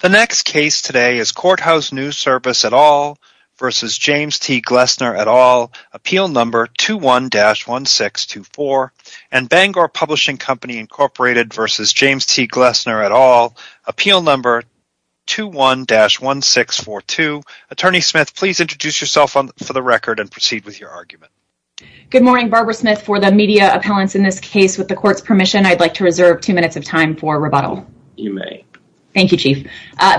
The next case today is Courthouse News Service et al. versus James T. Glessner et al. Appeal number 21-1624 and Bangor Publishing Company Incorporated versus James T. Glessner et al. Appeal number 21-1642. Attorney Smith, please introduce yourself for the record and proceed with your argument. Good morning, Barbara Smith for the media appellants in this case. With the court's permission, I'd like to reserve two minutes of time for rebuttal. You may. Thank you, Chief.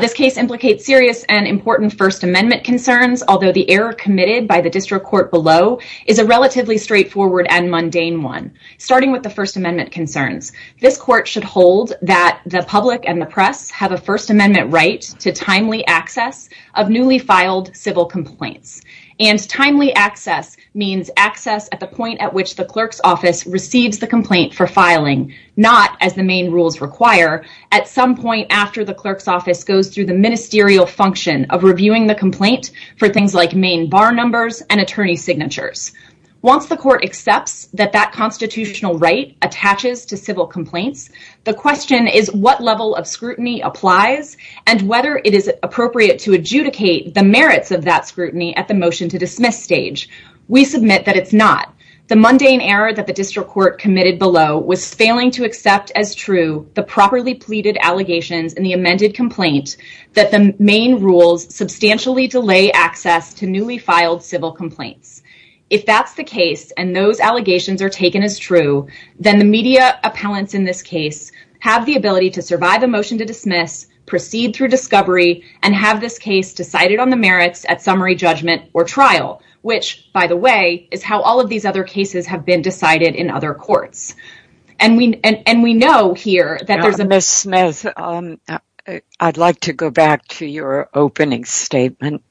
This case implicates serious and important First Amendment concerns, although the error committed by the district court below is a relatively straightforward and mundane one. Starting with the First Amendment concerns, this court should hold that the public and the press have a First Amendment right to timely access of newly filed civil complaints, and timely access means access at the point at which the clerk's office receives the complaint for filing, not, as the main rules require, at some point after the clerk's office goes through the ministerial function of reviewing the complaint for things like main bar numbers and attorney signatures. Once the court accepts that that constitutional right attaches to civil complaints, the question is what level of scrutiny applies and whether it is appropriate to adjudicate the merits of that scrutiny at the motion to dismiss stage. We submit that it's not. The mundane error that the district court committed below was failing to accept as true the properly pleaded allegations in the amended complaint that the main rules substantially delay access to newly filed civil complaints. If that's the case and those allegations are taken as true, then the media appellants in this case have the ability to survive a motion to dismiss, proceed through discovery, and have this case decided on the merits at summary judgment or trial, which, by the way, is how all of these other cases have been decided in other courts. And we know here that there's a... Ms. Smith, I'd like to go back to your opening statement.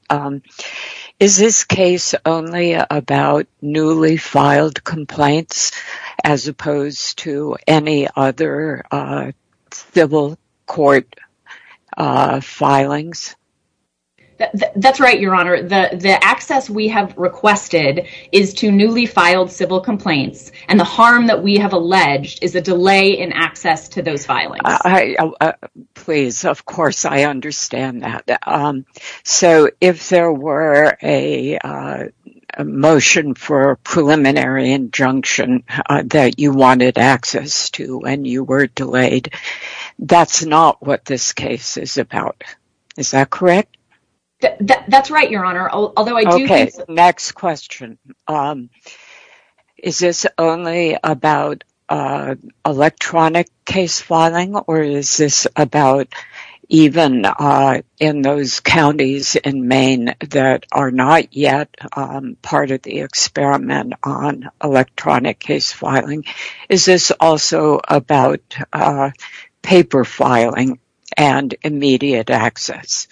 Is this case only about newly filed complaints as opposed to any other civil court filings? That's right, Your Honor. The access we have requested is to newly filed civil complaints, and the harm that we have alleged is a delay in access to those filings. Please, of course, I understand that. So if there were a motion for a preliminary injunction that you wanted access to and you were correct? That's right, Your Honor. Next question. Is this only about electronic case filing or is this about even in those counties in Maine that are not yet part of the experiment on electronic case filing? Is this also about paper filing and immediate access?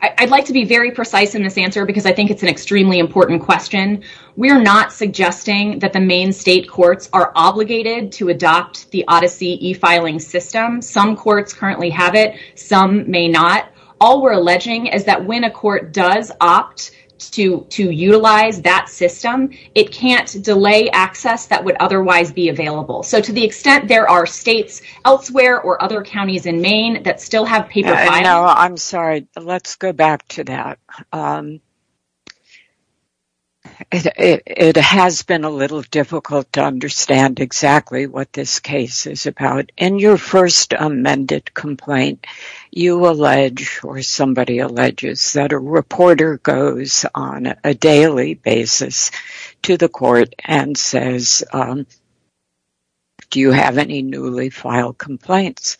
I'd like to be very precise in this answer because I think it's an extremely important question. We're not suggesting that the Maine state courts are obligated to adopt the Odyssey e-filing system. Some courts currently have it, some may not. All we're alleging is that when a court does opt to utilize that system, it can't delay access that would otherwise be available. So to the extent there are states elsewhere or other counties in Maine that still have paper filing. I'm sorry. Let's go back to that. It has been a little difficult to understand exactly what this case is about. In your first amended complaint, you allege or somebody alleges that a reporter goes on a daily basis to the court and says, do you have any newly filed complaints?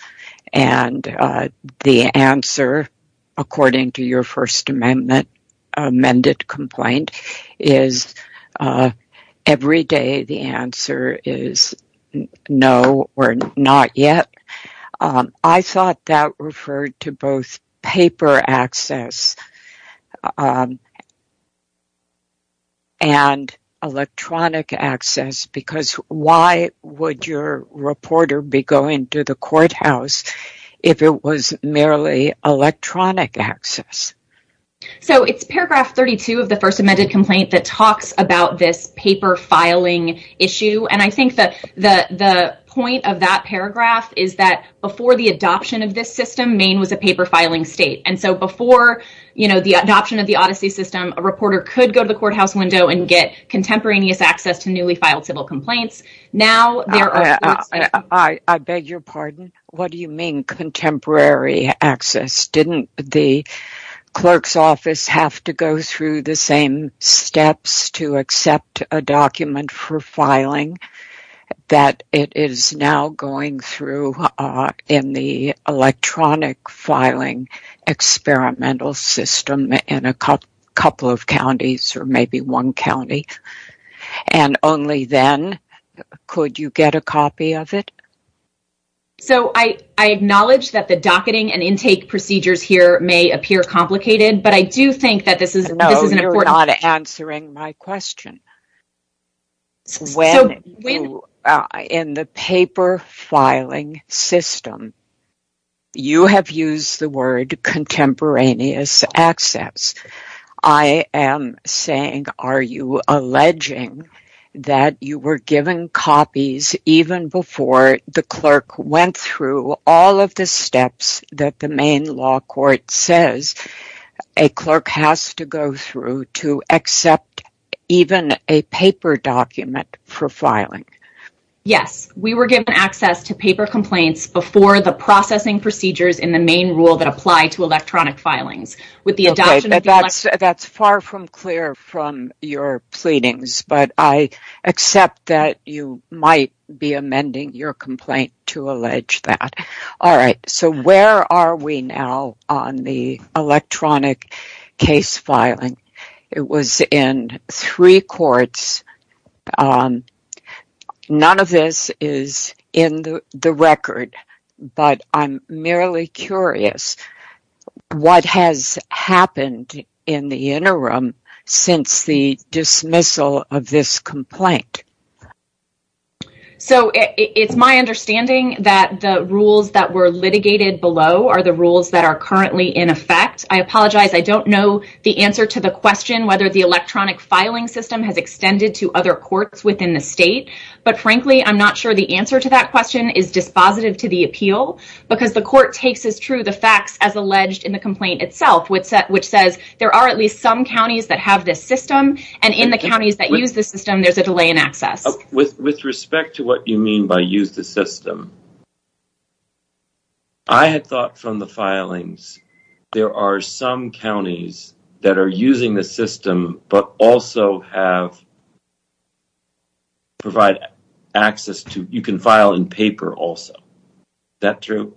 And the answer, according to your First Amendment amended complaint, is every day the answer is no or not yet. I thought that referred to both paper access and merely electronic access. So it's paragraph 32 of the First Amendment complaint that talks about this paper filing issue. And I think that the point of that paragraph is that before the adoption of this system, Maine was a paper filing state. And so before the adoption of the Odyssey system, a reporter could go to the courthouse window and get contemporaneous access to newly filed civil complaints. Now, I beg your pardon. What do you mean contemporary access? Didn't the clerk's office have to go through the same steps to accept a document for filing that it is now going through in the electronic filing experimental system in a couple of counties or maybe one county? And only then could you get a copy of it? So I acknowledge that the docketing and intake procedures here may appear complicated, but I do think that this is... No, you're not answering my question. When in the paper filing system, you have used the word contemporaneous access. I am saying, are you alleging that you were given copies even before the clerk went through all of the steps that the Maine law court says a clerk has to go through to accept even a paper document for filing? Yes, we were given access to paper complaints before the processing procedures in the Maine rule that apply to electronic filings. Okay, that's far from clear from your pleadings, but I accept that you might be amending your complaint to allege that. All right, so where are we now on the electronic case filing? It was in three courts. None of this is in the record, but I'm merely curious what has happened in the interim since the dismissal of this complaint? So it's my understanding that the rules that were litigated below are the rules that are currently in effect. I apologize, I don't know the answer to the question whether the electronic filing system has extended to other courts within the state. But frankly, I'm not sure the answer to that question is dispositive to the appeal, because the court takes as true the facts as alleged in the complaint itself, which says there are at least some counties that have this system, and in the counties that use the system there's a delay in access. With respect to what you mean by use the system, I had thought from the filings there are some counties that are using the system but also have provide access to, you can file in paper also. Is that true?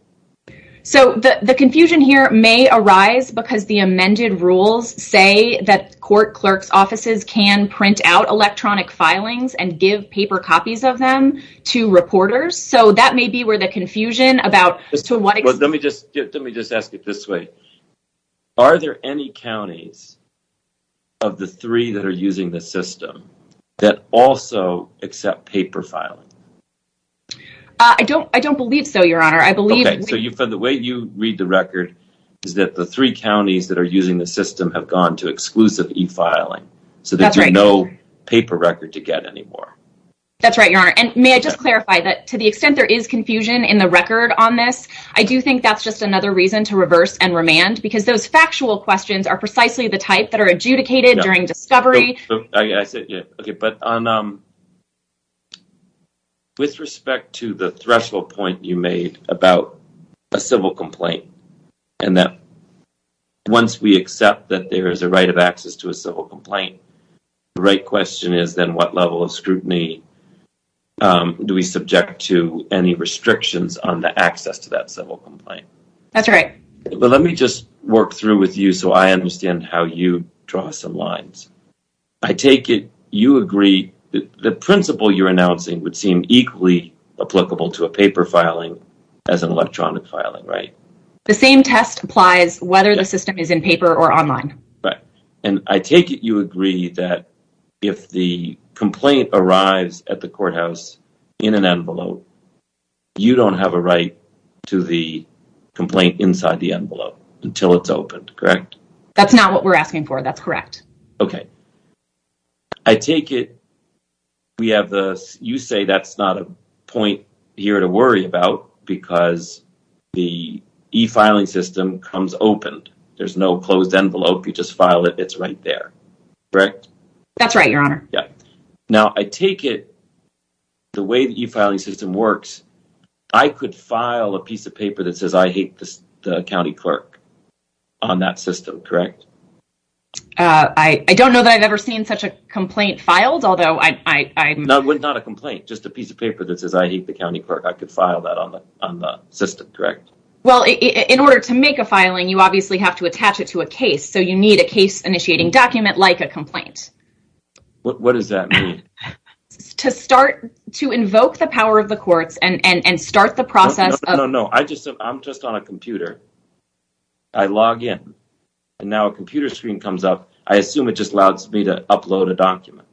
So the confusion here may arise because the amended rules say that court clerk's offices can print out electronic filings and give paper copies of them to reporters, so that may be where the confusion about... Let me just ask it this way. Are there any counties of the three that are using the system that also accept paper filing? I don't believe so, your honor. So the way you read the record is that the three counties that are using the system have gone to exclusive e-filing, so there's no paper record to get anymore. That's right, your honor. And may I just clarify that to the extent there is confusion in the record on this, I do think that's just another reason to reverse and remand, because those factual questions are precisely the type that are adjudicated during discovery. I said, yeah, okay, but with respect to the threshold point you made about a civil complaint and that once we accept that there is a right of access to a civil complaint, the right question is then what level of scrutiny do we subject to any restrictions on the access to that civil complaint? That's right. But let me just work through with you so I understand how you draw some lines. I take it you agree that the principle you're announcing would seem equally applicable to a paper filing as an electronic filing, right? The same test applies whether the system is in paper or online. Right. And I take it you agree that if the complaint arrives at the courthouse in an envelope, you don't have a right to the complaint inside the envelope until it's opened, correct? That's not what we're asking for, that's correct. Okay, I take it we have the, you say that's not a point here to worry about because the e-filing system comes opened. There's no closed envelope, you just file it, it's right there, correct? That's right, your honor. Yeah, now I take it the way the e-filing system works, I could file a piece of on that system, correct? I don't know that I've ever seen such a complaint filed, although I... No, it's not a complaint, just a piece of paper that says I hate the county court, I could file that on the system, correct? Well, in order to make a filing, you obviously have to attach it to a case, so you need a case initiating document like a complaint. What does that mean? To start, to invoke the power of the courts and start the process... No, no, no, I just, I'm just on a I log in and now a computer screen comes up, I assume it just allows me to upload a document.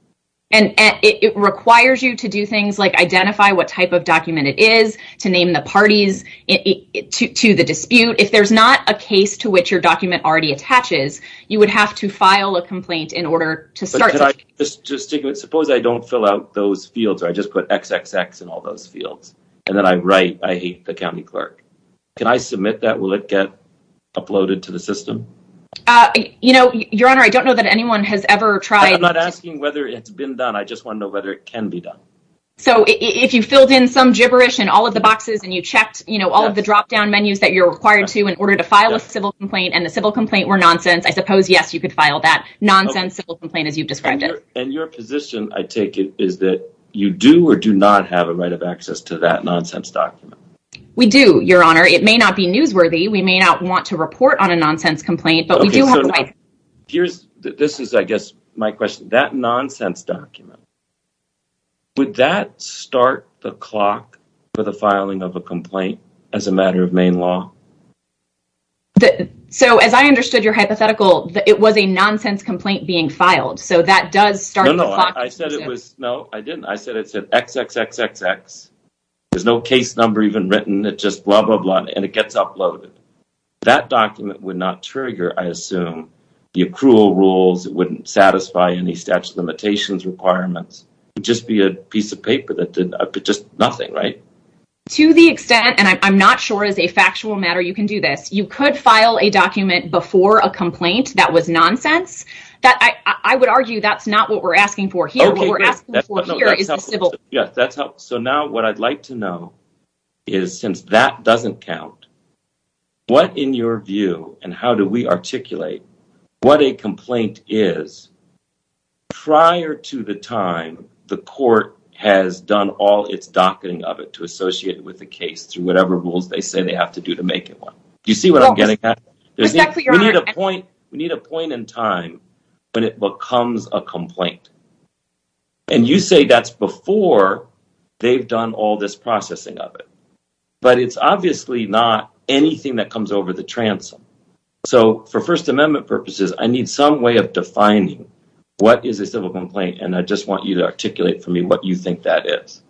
And it requires you to do things like identify what type of document it is, to name the parties, to the dispute, if there's not a case to which your document already attaches, you would have to file a complaint in order to start... But can I just, just take it, suppose I don't fill out those fields, or I just put XXX in all those fields, and then I write, I hate the county clerk, can I submit that? Will it get uploaded to the system? You know, your honor, I don't know that anyone has ever tried... I'm not asking whether it's been done, I just want to know whether it can be done. So if you filled in some gibberish in all of the boxes and you checked, you know, all of the drop-down menus that you're required to in order to file a civil complaint, and the civil complaint were nonsense, I suppose, yes, you could file that nonsense civil complaint as you've described it. And your position, I take it, is that you do or do not have a right of access to that nonsense document? We do, your honor. It may not be newsworthy, we may not want to report on a nonsense complaint, but we do have a right... Okay, so here's, this is, I guess, my question. That nonsense document, would that start the clock for the filing of a complaint as a matter of Maine law? So as I understood your hypothetical, it was a nonsense complaint being filed, so that does start the clock... No, I didn't. I said it said XXXXX. There's no case number even written. It's just blah, blah, blah, and it gets uploaded. That document would not trigger, I assume, the accrual rules. It wouldn't satisfy any statute of limitations requirements. It would just be a piece of paper that did just nothing, right? To the extent, and I'm not sure is a factual matter you can do this, you could file a document before a complaint that was nonsense. I would argue that's not what we're asking for here. What we're asking for here is a civil... Yes, that's how. So now what I'd like to know is, since that doesn't count, what in your view, and how do we articulate what a complaint is prior to the time the court has done all its docketing of it to associate with the case through whatever rules they say they have to do to make it one? Do you see what I'm getting at? We need a point in time when it becomes a complaint. And you say that's before they've done all this processing of it. But it's obviously not anything that comes over the transom. So for First Amendment purposes, I need some way of defining what is a civil complaint, and I just want you to articulate for me what you think that is.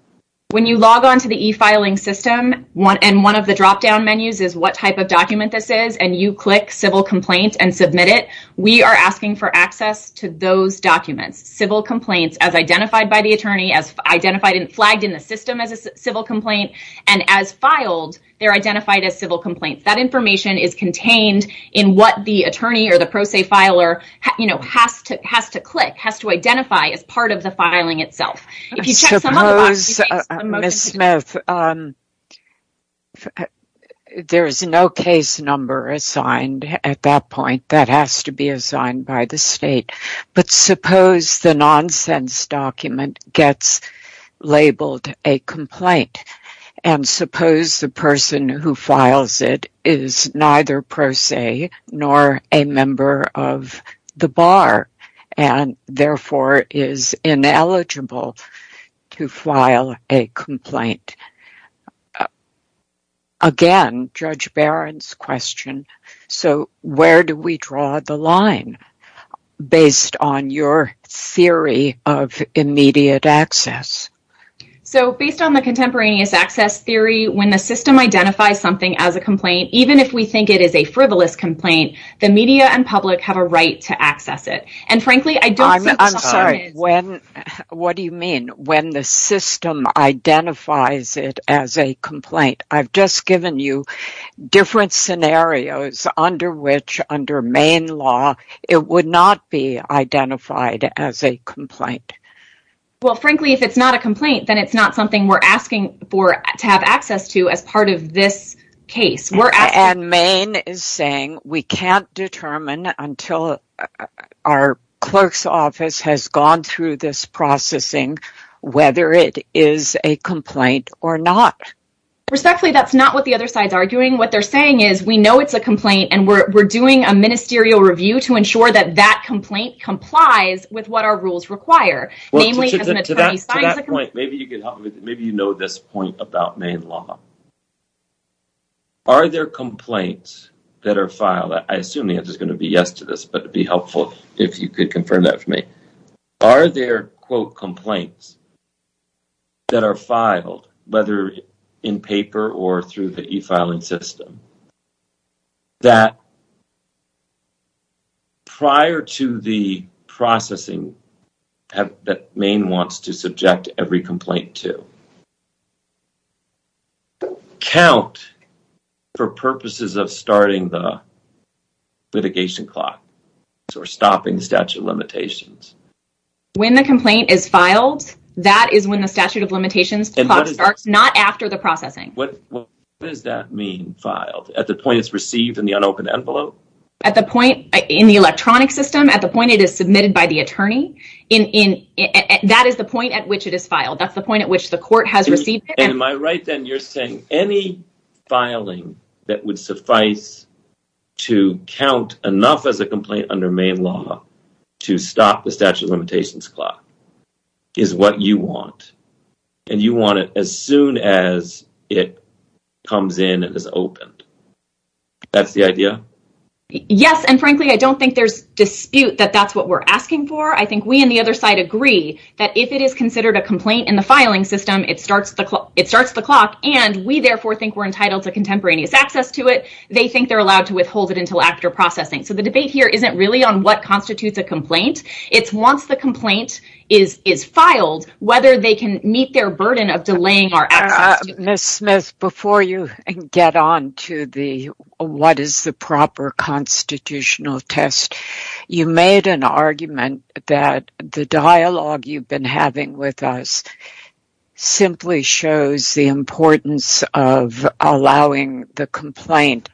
When you log on to the e-filing system, and one of the drop-down menus is what type of document this is, and you click civil complaint and submit it, we are asking for access to those documents. Civil complaints as identified by the attorney, as flagged in the system as a civil complaint, and as filed, they're identified as civil complaints. That information is contained in what the attorney or the pro se filer has to click, has to identify as part of the filing itself. Suppose, Ms. Smith, there is no case number assigned at that point that has to be assigned by the state. But suppose the nonsense document gets labeled a complaint, and suppose the person who files it is neither pro se nor a member of the bar, and therefore is ineligible to file a complaint. Again, Judge Barron's question, so where do we draw the line based on your theory of immediate access? So based on the contemporaneous access theory, when the system identifies something as a complaint, even if we think it is a frivolous complaint, the media and public have a right to access it. I'm sorry, what do you mean when the system identifies it as a complaint? I've just given you different scenarios under which, under Maine law, it would not be identified as a complaint. Well frankly, if it's not a complaint, then it's not something we're asking for to have access to as part of this case. And Maine is saying we can't determine until our clerk's office has gone through this processing whether it is a complaint or not. Respectfully, that's not what the other side's arguing. What they're saying is we know it's a complaint, and we're doing a ministerial review to ensure that that maybe you know this point about Maine law. Are there complaints that are filed? I assume the answer is going to be yes to this, but it'd be helpful if you could confirm that for me. Are there, quote, complaints that are filed, whether in paper or through the e-filing system, that prior to the processing that Maine wants to subject every complaint to? Count for purposes of starting the litigation clock or stopping the statute of limitations. When the complaint is filed, that is when the statute of limitations starts, not after the At the point it's received in the unopened envelope? At the point in the electronic system, at the point it is submitted by the attorney, that is the point at which it is filed. That's the point at which the court has received it. And am I right then, you're saying any filing that would suffice to count enough as a complaint under Maine law to stop the statute of limitations clock is what you want. And you want it as soon as it comes in and is opened. That's the idea? Yes. And frankly, I don't think there's dispute that that's what we're asking for. I think we on the other side agree that if it is considered a complaint in the filing system, it starts the clock. And we therefore think we're entitled to contemporaneous access to it. They think they're allowed to withhold it until after processing. So the debate here isn't really on what constitutes a complaint. It's once the before you get on to the what is the proper constitutional test, you made an argument that the dialogue you've been having with us simply shows the importance of allowing the complaint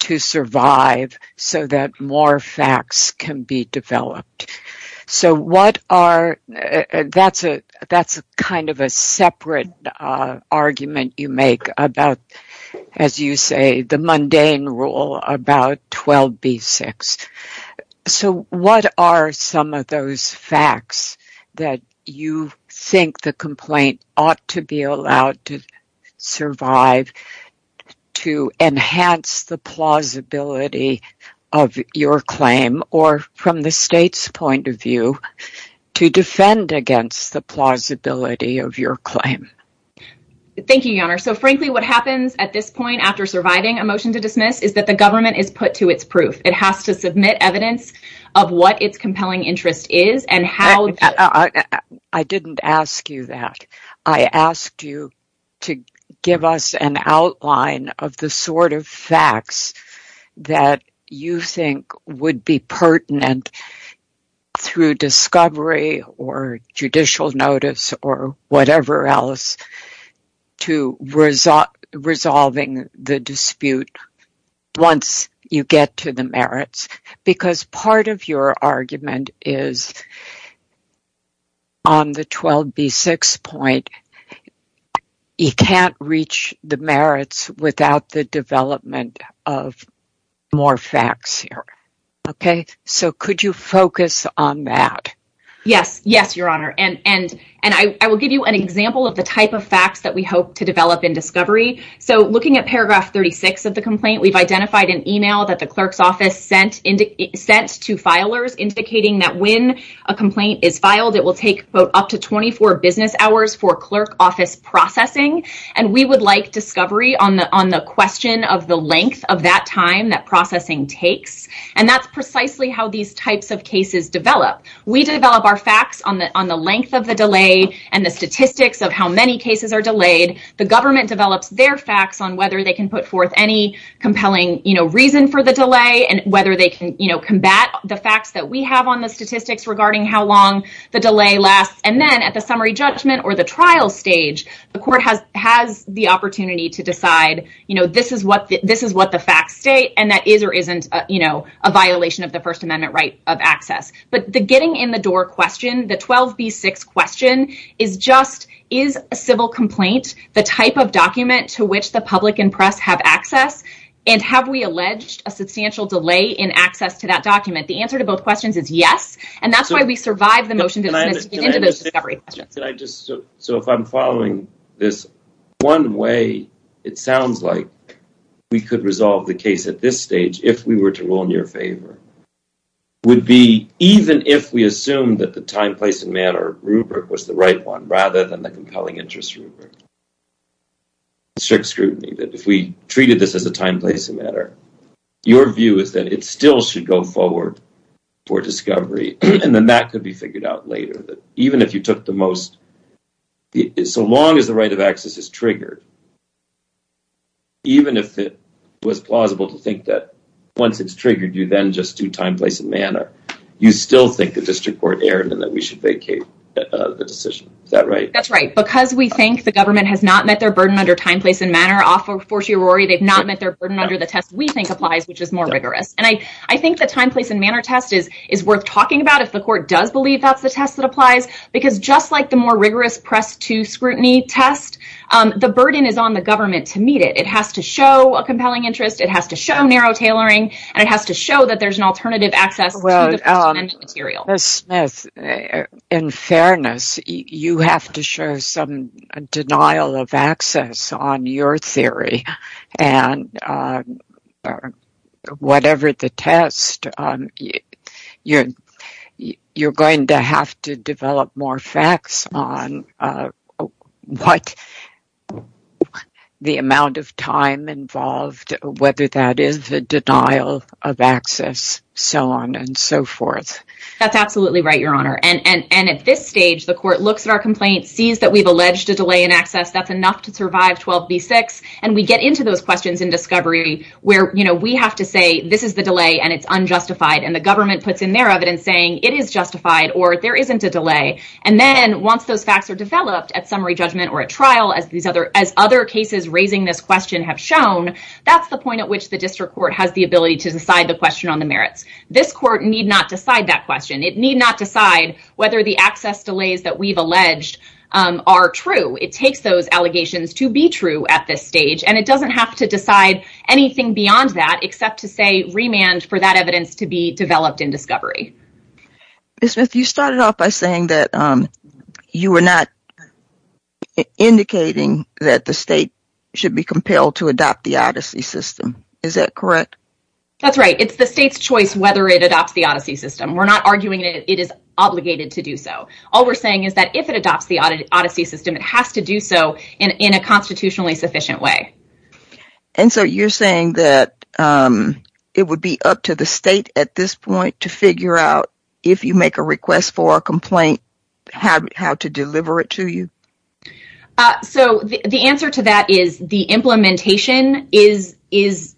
to survive so that more facts can be developed. So what are that's a kind of a separate argument you make about, as you say, the mundane rule about 12b6. So what are some of those facts that you think the complaint ought to be allowed to survive to enhance the plausibility of your claim or from the state's point of view, to defend against the plausibility of your claim? Thank you, Your Honor. So frankly, what happens at this point after surviving a motion to dismiss is that the government is put to its proof. It has to submit evidence of what its compelling interest is and how. I didn't ask you that. I asked you to give us an outline of the sort of facts that you think would be pertinent through discovery or judicial notice or to resolving the dispute once you get to the merits. Because part of your argument is on the 12b6 point, you can't reach the merits without the development of more facts here. Okay, so could you focus on that? Yes, yes, Your Honor. And I will give you an example of the type of facts that we hope to develop in discovery. So looking at paragraph 36 of the complaint, we've identified an email that the clerk's office sent to filers indicating that when a complaint is filed, it will take up to 24 business hours for clerk office processing. And we would like discovery on the question of the length of that time that processing takes. And that's precisely how these types of cases develop. We develop our facts on the length of delay and the statistics of how many cases are delayed. The government develops their facts on whether they can put forth any compelling reason for the delay and whether they can combat the facts that we have on the statistics regarding how long the delay lasts. And then at the summary judgment or the trial stage, the court has the opportunity to decide this is what the facts state and that is or isn't a violation of the First Amendment right of access. But the getting in door question, the 12B6 question, is just is a civil complaint the type of document to which the public and press have access? And have we alleged a substantial delay in access to that document? The answer to both questions is yes. And that's why we survived the motion to get into those discovery questions. So if I'm following this, one way it sounds like we could resolve the case at this stage, if we were to rule in your favor, would be even if we assumed that the time, place, and matter rubric was the right one rather than the compelling interest rubric. Strict scrutiny that if we treated this as a time, place, and matter, your view is that it still should go forward for discovery. And then that could be figured out later that even if you think that once it's triggered you then just do time, place, and matter, you still think the district court erred and that we should vacate the decision. Is that right? That's right. Because we think the government has not met their burden under time, place, and matter off of Fortiorari, they've not met their burden under the test we think applies, which is more rigorous. And I think the time, place, and matter test is worth talking about if the court does believe that's the test that applies. Because just like the more rigorous press to scrutiny test, the burden is on government to meet it. It has to show a compelling interest, it has to show narrow tailoring, and it has to show that there's an alternative access to the First Amendment material. Well, Ms. Smith, in fairness, you have to show some denial of access on your theory. And whatever the test, you're going to have to develop more facts on what the amount of time involved, whether that is the denial of access, so on and so forth. That's absolutely right, Your Honor. And at this stage, the court looks at our complaint, sees that we've alleged a delay in access, that's enough to survive 12b-6, and we get into those questions in discovery where we have to say this is the delay and it's unjustified. And the government puts in their evidence saying it is justified or there isn't a delay. And then once those facts are developed at summary judgment or a trial, as other cases raising this question have shown, that's the point at which the district court has the ability to decide the question on the merits. This court need not decide that question. It need not decide whether the access delays that we've alleged are true. It takes those allegations to be true at this stage, and it doesn't have to decide anything beyond that except to say remand for that evidence to developed in discovery. Ms. Smith, you started off by saying that you were not indicating that the state should be compelled to adopt the odyssey system. Is that correct? That's right. It's the state's choice whether it adopts the odyssey system. We're not arguing that it is obligated to do so. All we're saying is that if it adopts the odyssey system, it has to do so in a constitutionally sufficient way. And so you're saying that it would be up to the state at this point to figure out, if you make a request for a complaint, how to deliver it to you? So the answer to that is the implementation is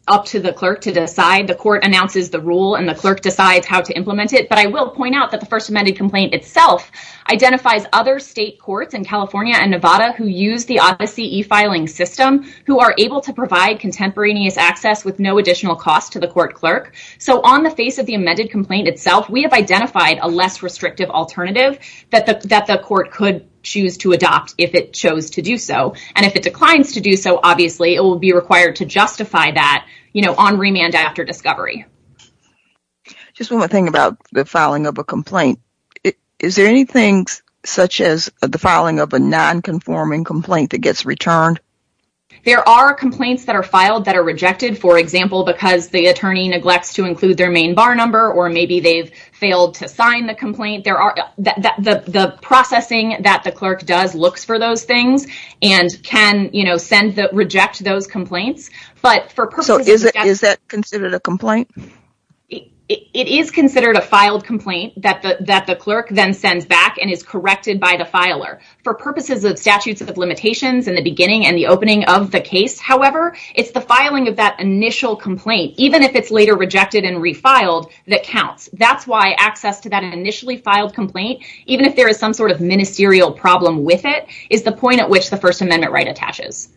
up to the clerk to decide. The court announces the rule and the clerk decides how to implement it. But I will point out that the first amended complaint itself identifies other state courts in California and Nevada who use the odyssey e-filing system who are able to provide contemporaneous access with no additional cost to the court clerk. So on the face of the amended complaint itself, we have identified a less restrictive alternative that the court could choose to adopt if it chose to do so. And if it declines to do so, obviously it will be required to justify that, you know, on remand after discovery. Just one more thing about the filing of a complaint. Is there anything such as the filing of a non-conforming complaint that gets returned? There are complaints that are filed that are to include their main bar number or maybe they've failed to sign the complaint. The processing that the clerk does looks for those things and can, you know, reject those complaints. So is that considered a complaint? It is considered a filed complaint that the clerk then sends back and is corrected by the filer. For purposes of statutes of limitations in the beginning and the opening of the case, however, it's the filing of that initial complaint, even if it's later rejected and refiled, that counts. That's why access to that initially filed complaint, even if there is some sort of ministerial problem with it, is the point at which the First Amendment right attaches.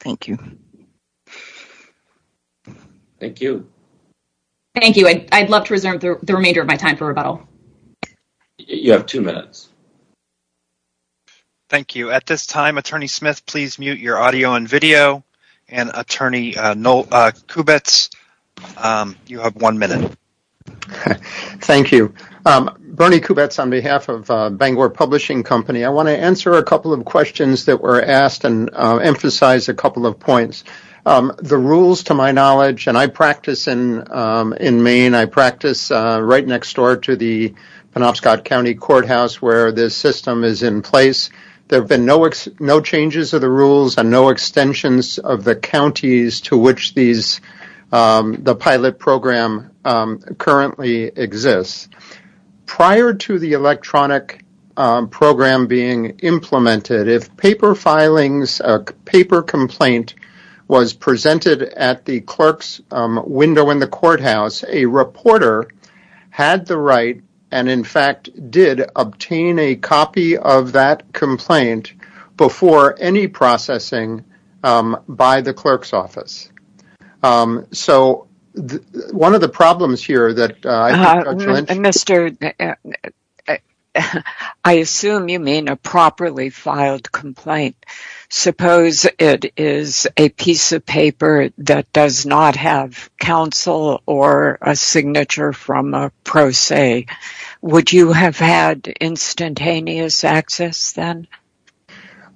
Thank you. Thank you. Thank you. I'd love to reserve the remainder of my time for rebuttal. You have two minutes. You have one minute. Thank you. Bernie Kubetz on behalf of Bangor Publishing Company. I want to answer a couple of questions that were asked and emphasize a couple of points. The rules, to my knowledge, and I practice in Maine. I practice right next door to the Penobscot County Courthouse where this system is in place. There have been no changes of the counties to which the pilot program currently exists. Prior to the electronic program being implemented, if paper complaint was presented at the clerk's window in the courthouse, a reporter had the right and, in fact, did obtain a copy of that complaint before any processing by the clerk's office. So, one of the problems here that... I assume you mean a properly filed complaint. Suppose it is a piece of paper that does not have counsel or a signature from a pro se. Would you have had instantaneous access then?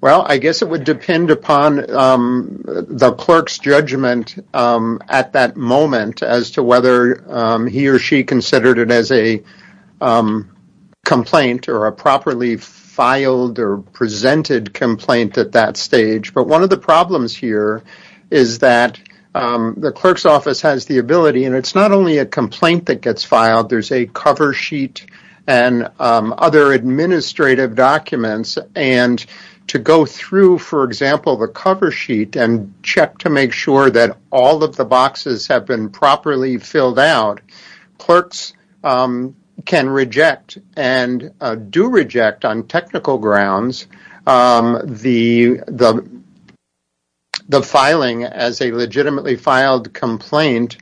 Well, I guess it would depend upon the clerk's judgment at that moment as to whether he or she considered it as a complaint or a properly filed or presented complaint at that stage. But one of the problems here is that the clerk's office has the ability, and it is not only a complaint that to go through, for example, the cover sheet and check to make sure that all of the boxes have been properly filled out. Clerks can reject and do reject on technical grounds the filing as a complaint.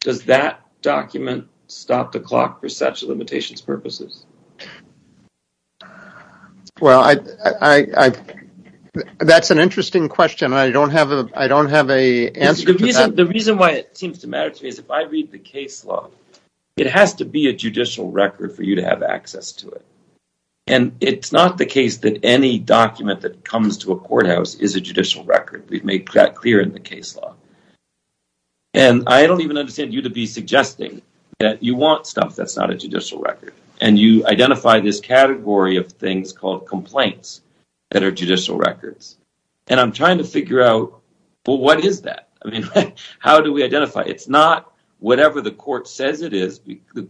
Does that document stop the clock for such limitations purposes? Well, that's an interesting question. I don't have an answer for that. The reason why it seems to matter to me is if I read the case law, it has to be a judicial record for you to have access to it. And it's not the case that any document that comes to a courthouse is a judicial record. We've made that clear in the case law. And I don't even understand you to be suggesting that you want stuff that's not a judicial record. And you identify this category of things called complaints that are judicial records. And I'm trying to figure out, well, what is that? I mean, how do we identify? It's not whatever the court says it is,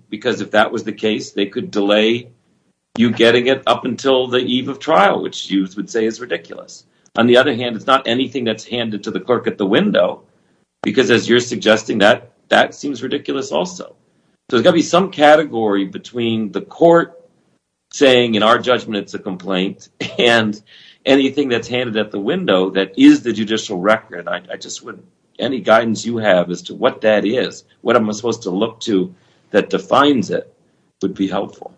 because if that was the case, they could delay you getting it up until the eve of trial, which you would say is ridiculous. On the other hand, it's not anything that's handed to the court at the window, because as you're suggesting, that seems ridiculous also. So there's got to be some category between the court saying, in our judgment, it's a complaint, and anything that's handed at the window that is the judicial record. Any guidance you have as to what that is, what I'm supposed to look to that defines it, would be helpful.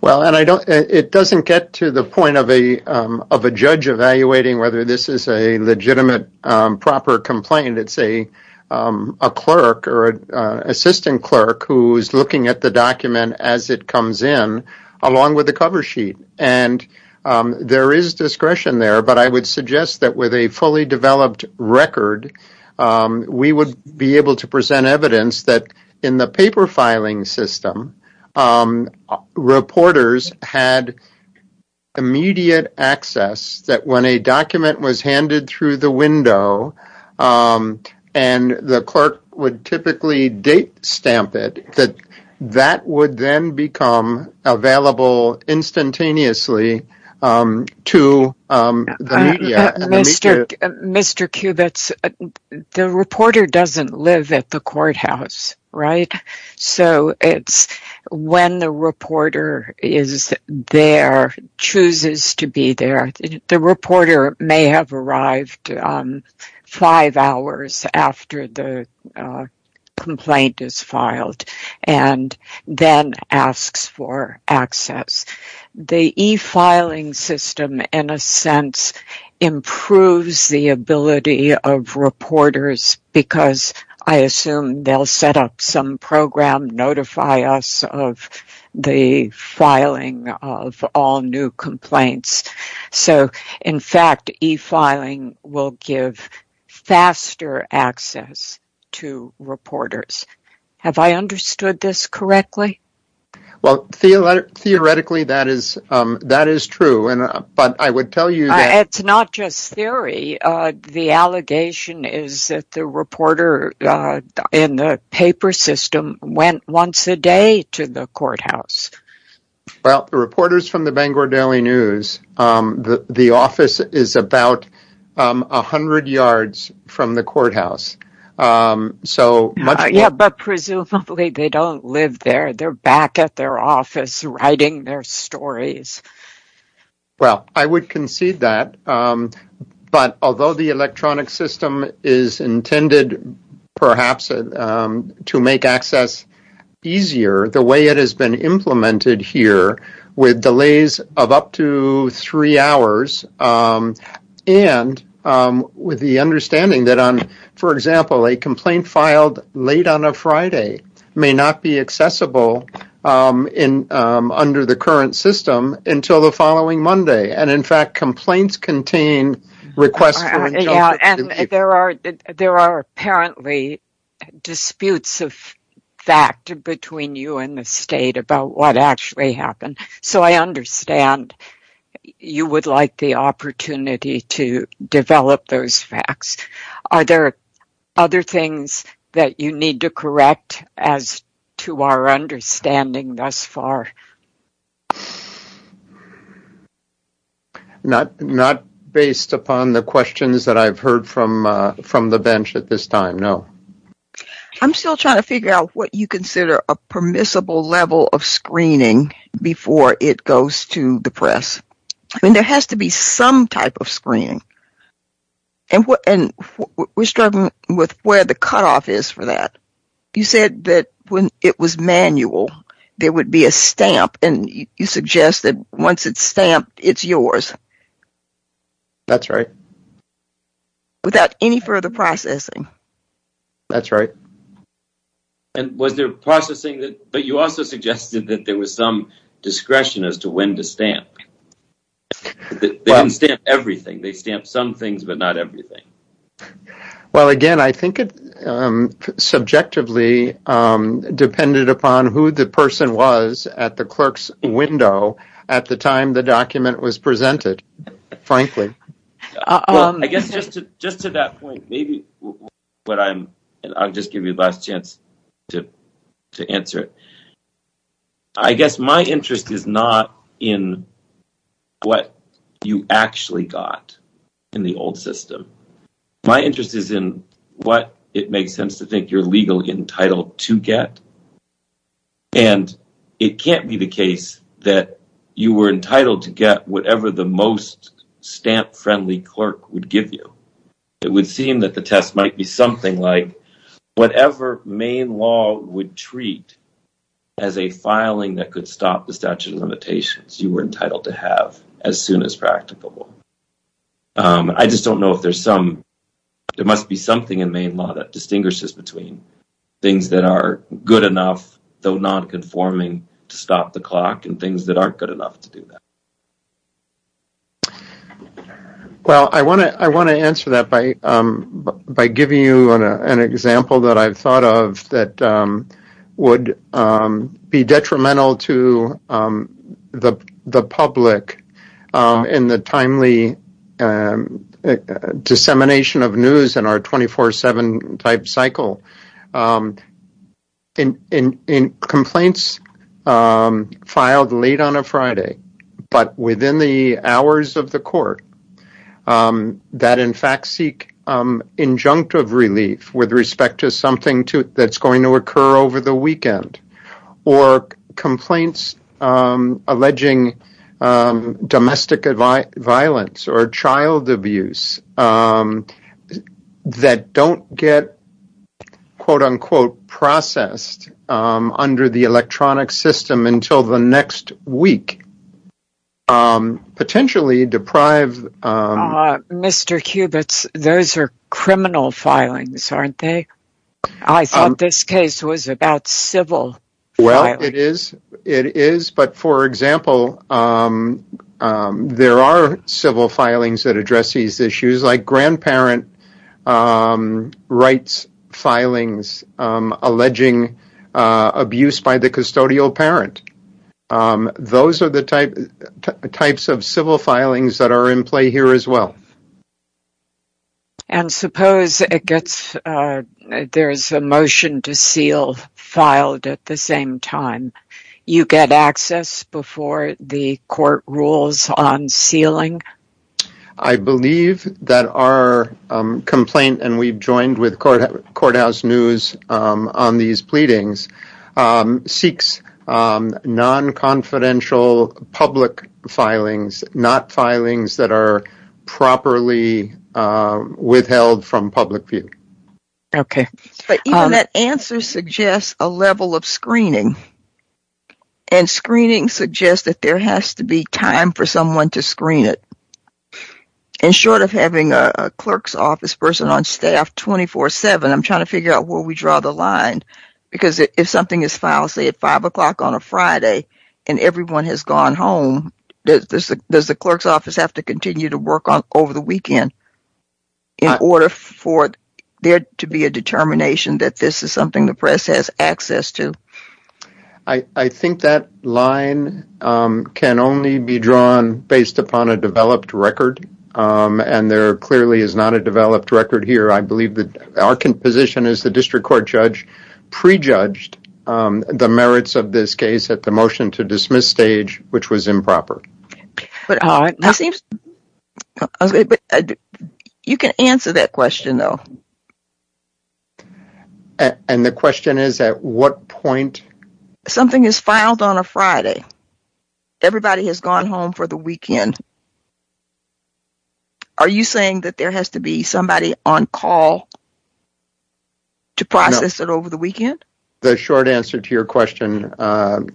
Well, and it doesn't get to the point of a judge evaluating whether this is a legitimate, proper complaint. It's a clerk or an assistant clerk who is looking at the document as it comes in, along with the cover sheet. And there is discretion there, but I would suggest that with a fully developed record, we would be able to present evidence that in the paper filing system, reporters had immediate access, that when a document was handed through the window, and the clerk would typically date stamp it, that that would then become available instantaneously to the media. Mr. Kubitz, the reporter doesn't live at the courthouse, right? So it's when the is there, chooses to be there. The reporter may have arrived five hours after the complaint is filed, and then asks for access. The e-filing system, in a sense, improves the ability of the filing of all new complaints. So in fact, e-filing will give faster access to reporters. Have I understood this correctly? Well, theoretically, that is true, but I would tell you that... It's not just theory. The allegation is that the reporter in the paper system went once a day to the courthouse. Well, the reporters from the Bangor Daily News, the office is about 100 yards from the courthouse. Yeah, but presumably, they don't live there. They're back at their office, writing their stories. Well, I would concede that, but although the electronic system is intended, perhaps, to make access easier, the way it has been implemented here, with delays of up to three hours, and with the understanding that, for example, a complaint filed late on a Friday may not be until the following Monday. And in fact, complaints contain requests... There are apparently disputes of fact between you and the state about what actually happened. So I understand you would like the opportunity to develop those facts. Are there other things that you need to correct as to our understanding thus far? Not based upon the questions that I've heard from the bench at this time, no. I'm still trying to figure out what you consider a permissible level of screening before it goes to the press. I mean, there has to be some type of screening, and we're struggling with where the cutoff is for that. You said that when it was manual, there would be a stamp, and you suggest that once it's stamped, it's yours. That's right. Without any further processing. That's right. And was there processing that... But you also suggested that there was some discretion as to when to stamp. They didn't stamp everything. They stamped some things, but not everything. Well, again, I think it subjectively depended upon who the person was at the clerk's window at the time the document was presented, frankly. Well, I guess just to that point, maybe I'll just give you the last chance to answer it. I guess my interest is not in what you actually got in the old system. My interest is in what it makes sense to think you're legally entitled to get, and it can't be the case that you were entitled to get whatever the most stamp-friendly clerk would give you. It would seem that the test might be something like whatever Maine law would treat as a filing that could stop the statute of limitations, you were entitled to have as soon as practicable. I just don't know if there's some... There must be something in Maine law that distinguishes between things that are good enough, though not conforming, to stop the clock and things that aren't good enough to do that. Well, I want to answer that by giving you an example that I've thought of that would be detrimental to the public in the timely dissemination of news in our 24-7 type cycle. Complaints filed late on a Friday, but within the hours of the court, that in fact seek injunctive relief with respect to something that's going to occur over the weekend, or complaints alleging domestic violence or child abuse that don't get quote-unquote processed under the electronic system until the next week, potentially deprive... Mr. Kubits, those are criminal filings, aren't they? I thought this case was about civil. Well, it is, but for example, there are civil filings that address these issues, like grandparent rights filings, alleging abuse by the custodial parent. Those are the types of civil filings that are in play here as well. And suppose it gets... There's a motion to seal filed at the same time. You get access before the court rules on sealing? I believe that our complaint, and we've joined with Courthouse News on these pleadings, seeks non-confidential public filings, not filings that are properly withheld from public view. Okay, but even that answer suggests a level of screening, and screening suggests that there has to be time for someone to screen it. And short of having a clerk's office person on staff 24-7, I'm trying to figure out where we draw the line, because if something is filed, say at five o'clock on a Friday, and everyone has gone home, does the clerk's office have to continue to work on over the weekend in order for there to be a determination that this is something the press has access to? I think that line can only be drawn based upon a developed record, and there clearly is not a developed record here. I believe that our position as the district court judge prejudged the merits of this case at the motion to dismiss which was improper. But you can answer that question though. And the question is at what point? Something is filed on a Friday, everybody has gone home for the weekend. Are you saying that there has to be somebody on call to process it over the weekend? The short answer to your question,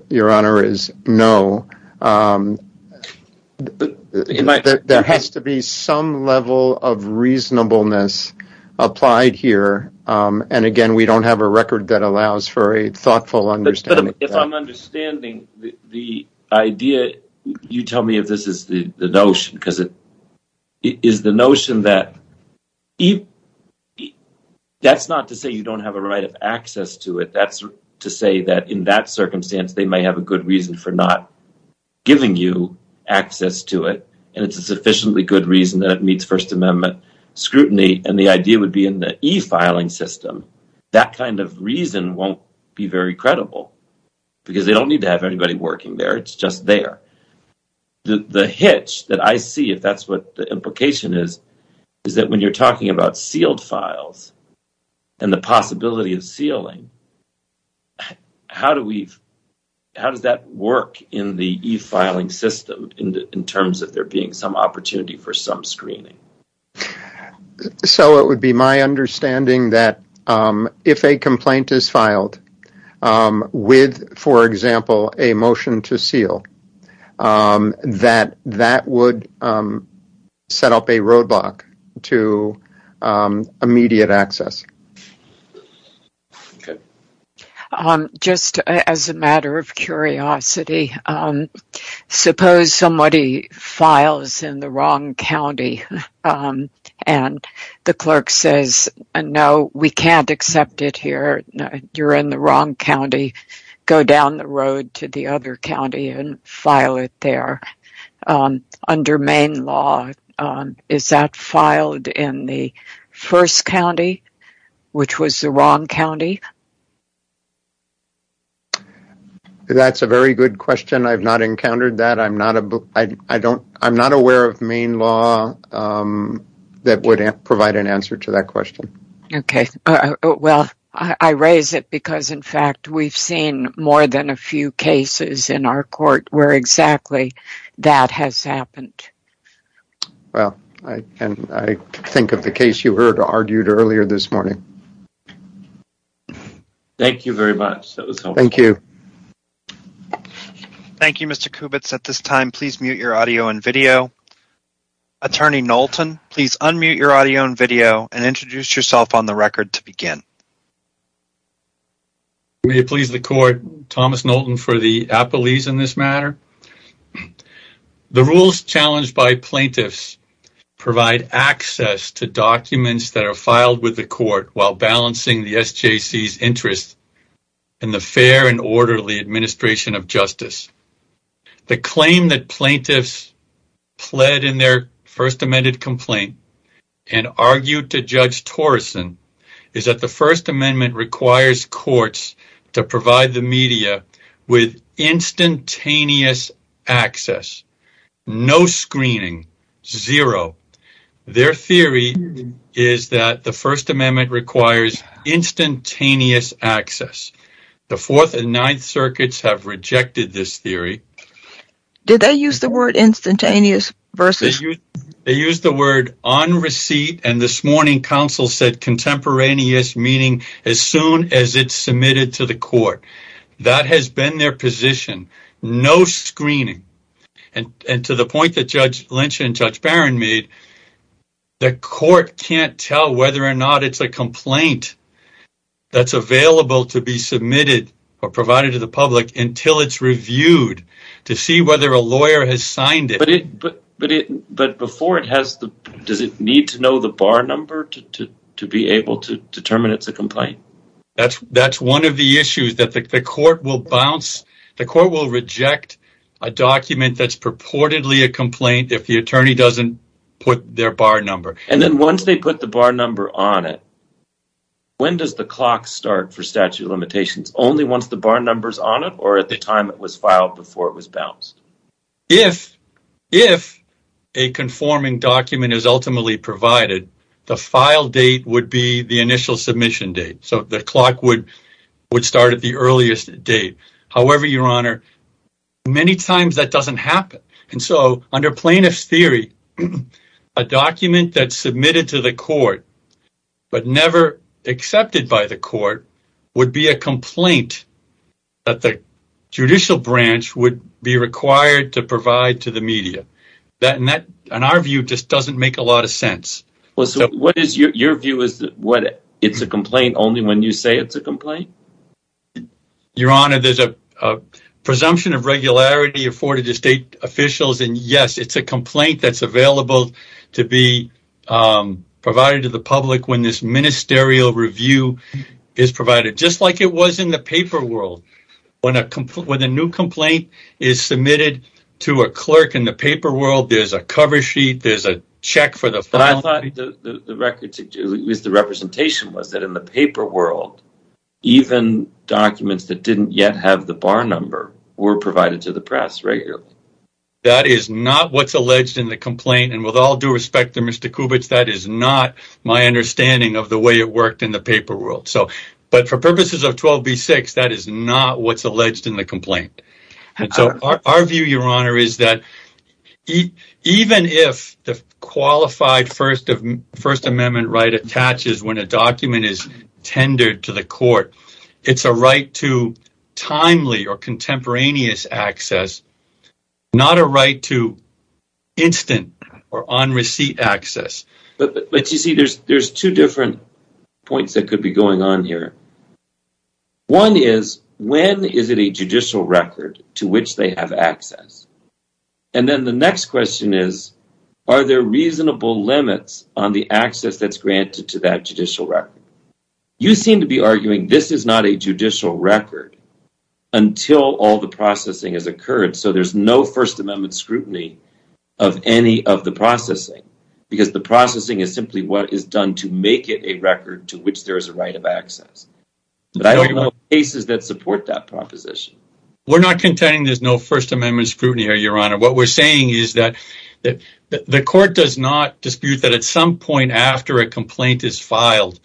your honor, is no. There has to be some level of reasonableness applied here, and again, we don't have a record that allows for a thoughtful understanding. If I'm understanding the idea, you tell me if this is the notion, because it is the notion that if that's not to say you don't have a right of access to it, that's to say that in that circumstance they might have a good reason for not giving you access to it, and it's a sufficiently good reason that it meets First Amendment scrutiny, and the idea would be in the e-filing system. That kind of reason won't be very credible, because they don't need to have anybody working there. It's just there. The hitch that I see, if that's what the implication is, is that when you're talking about sealed files and the possibility of sealing, how does that work in the e-filing system in terms of there being some opportunity for some screening? So it would be my understanding that if a complaint is filed with, for example, a motion to seal, that that would set up a roadblock to immediate access. Just as a matter of curiosity, suppose somebody files in the wrong county, and the clerk says, no, we can't accept it here. You're in the wrong county. Go down the road to the other county and file it there. Under Maine law, is that filed in the first county, which was the wrong county? That's a very good question. I've not encountered that. I'm not aware of Maine law that would provide an answer to that question. Okay. Well, I raise it because, in fact, we've seen more than a few cases in our court where exactly that has happened. Well, I think of the case you heard argued earlier this morning. Thank you very much. That was helpful. Thank you. Thank you, Mr. Kubitz. At this time, please mute your audio and video. Attorney Knowlton, please unmute your audio and video and introduce yourself on the record to begin. May it please the court, Thomas Knowlton for the Appalachians in this matter. The rules challenged by plaintiffs provide access to documents that are filed with the court while balancing the SJC's interest in the fair and orderly administration of justice. The claim that plaintiffs pled in their First Amendment complaint and argued to Judge Torreson is that the First Amendment requires courts to provide the media with instantaneous access, no screening, zero. Their theory is that the First Amendment requires instantaneous access. The Fourth and they use the word instantaneous versus. They use the word on receipt, and this morning, counsel said contemporaneous, meaning as soon as it's submitted to the court. That has been their position, no screening, and to the point that Judge Lynch and Judge Barron made, the court can't tell whether or not it's a complaint that's available to be submitted or provided to the public until it's reviewed to see whether a lawyer has signed it. But before it has, does it need to know the bar number to be able to determine it's a complaint? That's one of the issues that the court will bounce. The court will reject a document that's purportedly a complaint if the attorney doesn't put their bar number. And then once they put the number on it, when does the clock start for statute of limitations? Only once the bar number is on it or at the time it was filed before it was bounced? If a conforming document is ultimately provided, the file date would be the initial submission date. So the clock would start at the earliest date. However, Your Honor, many times that doesn't happen. And so under plaintiff's document that's submitted to the court but never accepted by the court would be a complaint that the judicial branch would be required to provide to the media. That, in our view, just doesn't make a lot of sense. Well, so what is your view? Is that it's a complaint only when you say it's a complaint? Your Honor, there's a presumption of regularity afforded to officials. And yes, it's a complaint that's available to be provided to the public when this ministerial review is provided, just like it was in the paper world. When a new complaint is submitted to a clerk in the paper world, there's a cover sheet, there's a check for the file. But I thought the representation was that in the paper world, even documents that didn't yet have the bar number were provided to the press regularly. That is not what's alleged in the complaint. And with all due respect to Mr. Kubits, that is not my understanding of the way it worked in the paper world. But for purposes of 12b-6, that is not what's alleged in the complaint. And so our view, Your Honor, is that even if the qualified First Amendment right attaches when a document is tendered to the court, it's a right to timely or not a right to instant or on receipt access. But you see, there's two different points that could be going on here. One is, when is it a judicial record to which they have access? And then the next question is, are there reasonable limits on the access that's granted to that judicial record? You seem to be arguing this is not a judicial record until all the processing has occurred. So there's no First Amendment scrutiny of any of the processing, because the processing is simply what is done to make it a record to which there is a right of access. But I don't know cases that support that proposition. We're not contending there's no First Amendment scrutiny here, Your Honor. What we're saying is that the court does not dispute that at some point after a complaint is filed,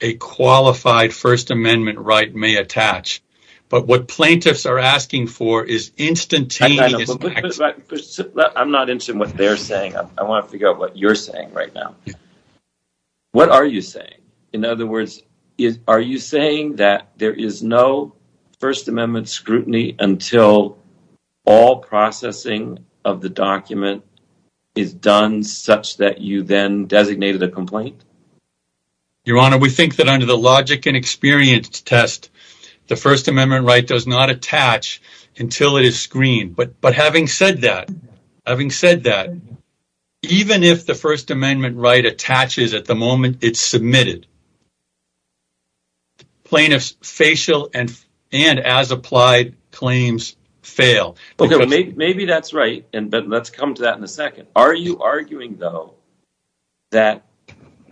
a qualified First Amendment right may attach. But what plaintiffs are asking for is instantaneous. I'm not interested in what they're saying. I want to figure out what you're saying right now. What are you saying? In other words, are you saying that there is no First Amendment scrutiny until all processing of the document is done such that you then designated a complaint? Your Honor, we think that under the logic and experience test, the First Amendment right does not attach until it is screened. But having said that, even if the First Amendment right attaches at the moment it's submitted, plaintiffs' facial and as-applied claims fail. Maybe that's right, but let's come to that in a second. Are you arguing, though, that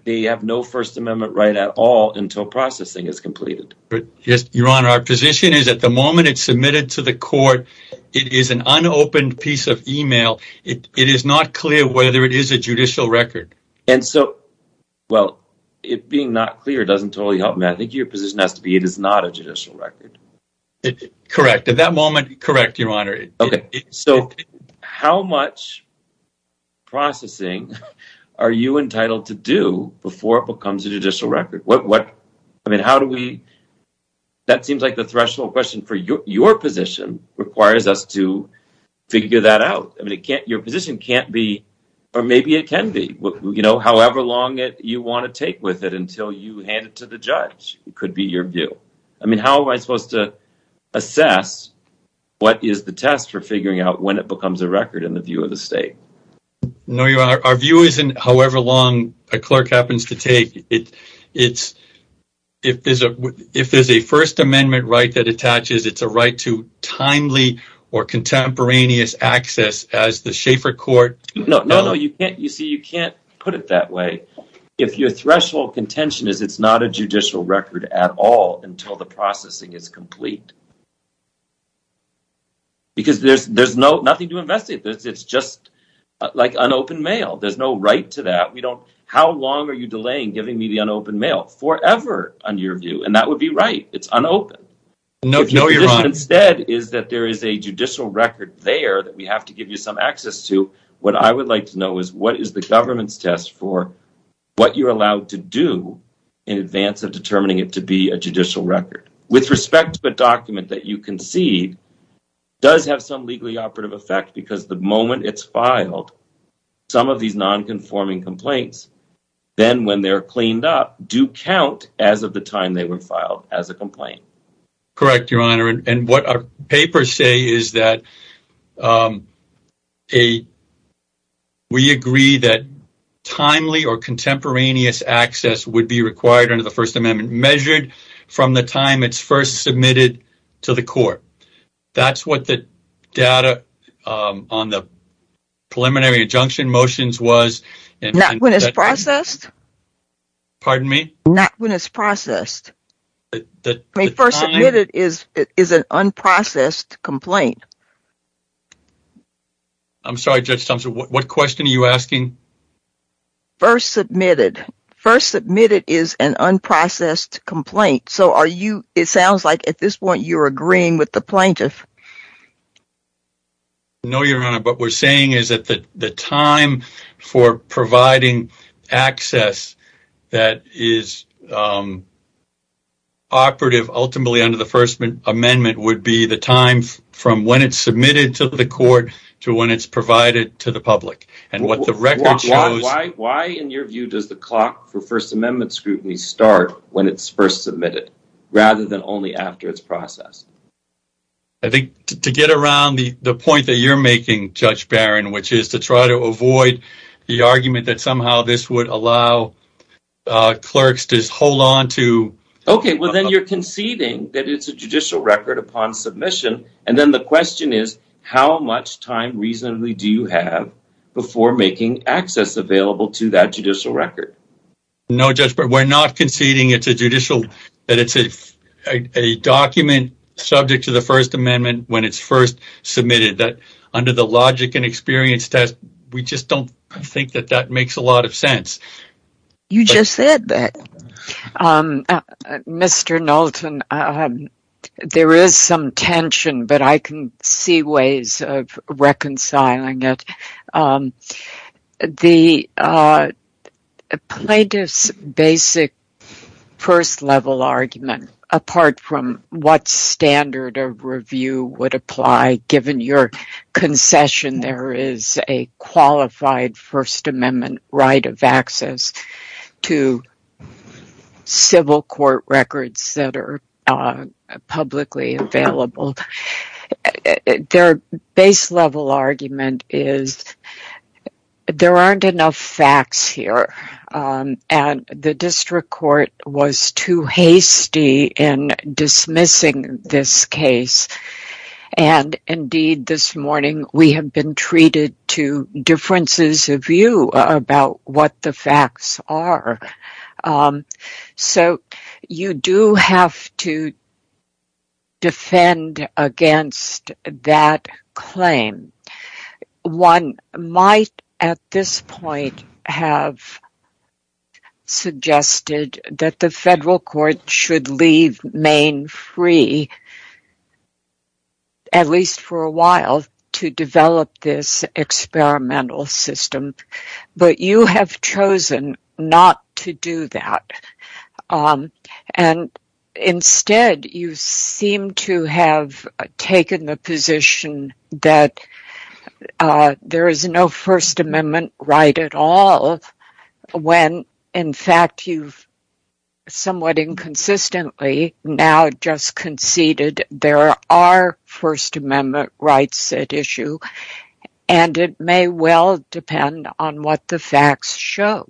they have no First Amendment right at all until processing is completed? Your Honor, our position is at the moment it's submitted to the court, it is an unopened piece of email. It is not clear whether it is a judicial record. Well, it being not clear doesn't totally help me. I think your position has to be it is not a judicial record. Correct. At that moment, correct, Your Honor. So how much processing are you entitled to do before it becomes a judicial record? That seems like the threshold question for your position requires us to figure that out. Your position can't be, or maybe it can be, however long you want to take with it until you hand it to the judge. It could be your view. I mean, how am I supposed to assess what is the test for figuring out when it becomes a record in the view of the state? No, Your Honor. Our view isn't however long a clerk happens to take. If there's a First Amendment right that attaches, it's a right to timely or contemporaneous access as the not a judicial record at all until the processing is complete. Because there's nothing to investigate. It's just like unopened mail. There's no right to that. How long are you delaying giving me the unopened mail? Forever, in your view. And that would be right. It's unopened. No, Your Honor. If your position instead is that there is a judicial record there that we have to give you some access to, what I would like to know is what is the government's test for what you're allowed to do in advance of determining it to be a judicial record? With respect to a document that you concede does have some legally operative effect because the moment it's filed, some of these non-conforming complaints, then when they're cleaned up, do count as of the time they were filed as a complaint. Correct, Your Honor. And what our papers say is that we agree that timely or contemporaneous access would be required under the First Amendment measured from the time it's first submitted to the court. That's what the data on the preliminary injunction motions was. Not when it's processed? Pardon me? Not when it's processed. First submitted is an unprocessed complaint. I'm sorry, Judge Thompson. What question are you asking? First submitted. First submitted is an unprocessed complaint. So, it sounds like at this point you're agreeing with the plaintiff. No, Your Honor. What we're saying is that the time for providing access that is operative ultimately under the First Amendment would be the time from when it's submitted to the court to when it's provided to the public. And what the record shows... Why, in your view, does the clock for First Amendment scrutiny start when it's first submitted rather than only after it's processed? I think to get around the point that you're making, Judge Barron, which is to try to avoid the argument that somehow this would allow clerks to hold on to... Okay, well, then you're conceding that it's a judicial record upon submission, and then the question is, how much time reasonably do you have before making access available to that judicial record? No, Judge Barron. We're not conceding that it's a document subject to the First Amendment when it's first submitted. Under the logic and experience test, we just don't think that that makes a lot of sense. You just said that. Mr. Knowlton, there is some tension, but I can see ways of reconciling it. The plaintiff's basic first-level argument, apart from what standard of review would apply, given your concession there is a qualified First Amendment right of access to the First Amendment. There aren't enough facts here, and the district court was too hasty in dismissing this case. Indeed, this morning, we have been treated to differences of view about what the facts are. So, you do have to defend against that claim. One might, at this point, have suggested that the federal court should leave Maine free, at least for a while, to develop this experimental system, but you have chosen not to do that. Instead, you seem to have taken the position that there is no First Amendment right at all when, in fact, you've somewhat inconsistently now just conceded there are First Amendment rights at issue, and it may well depend on what the facts show.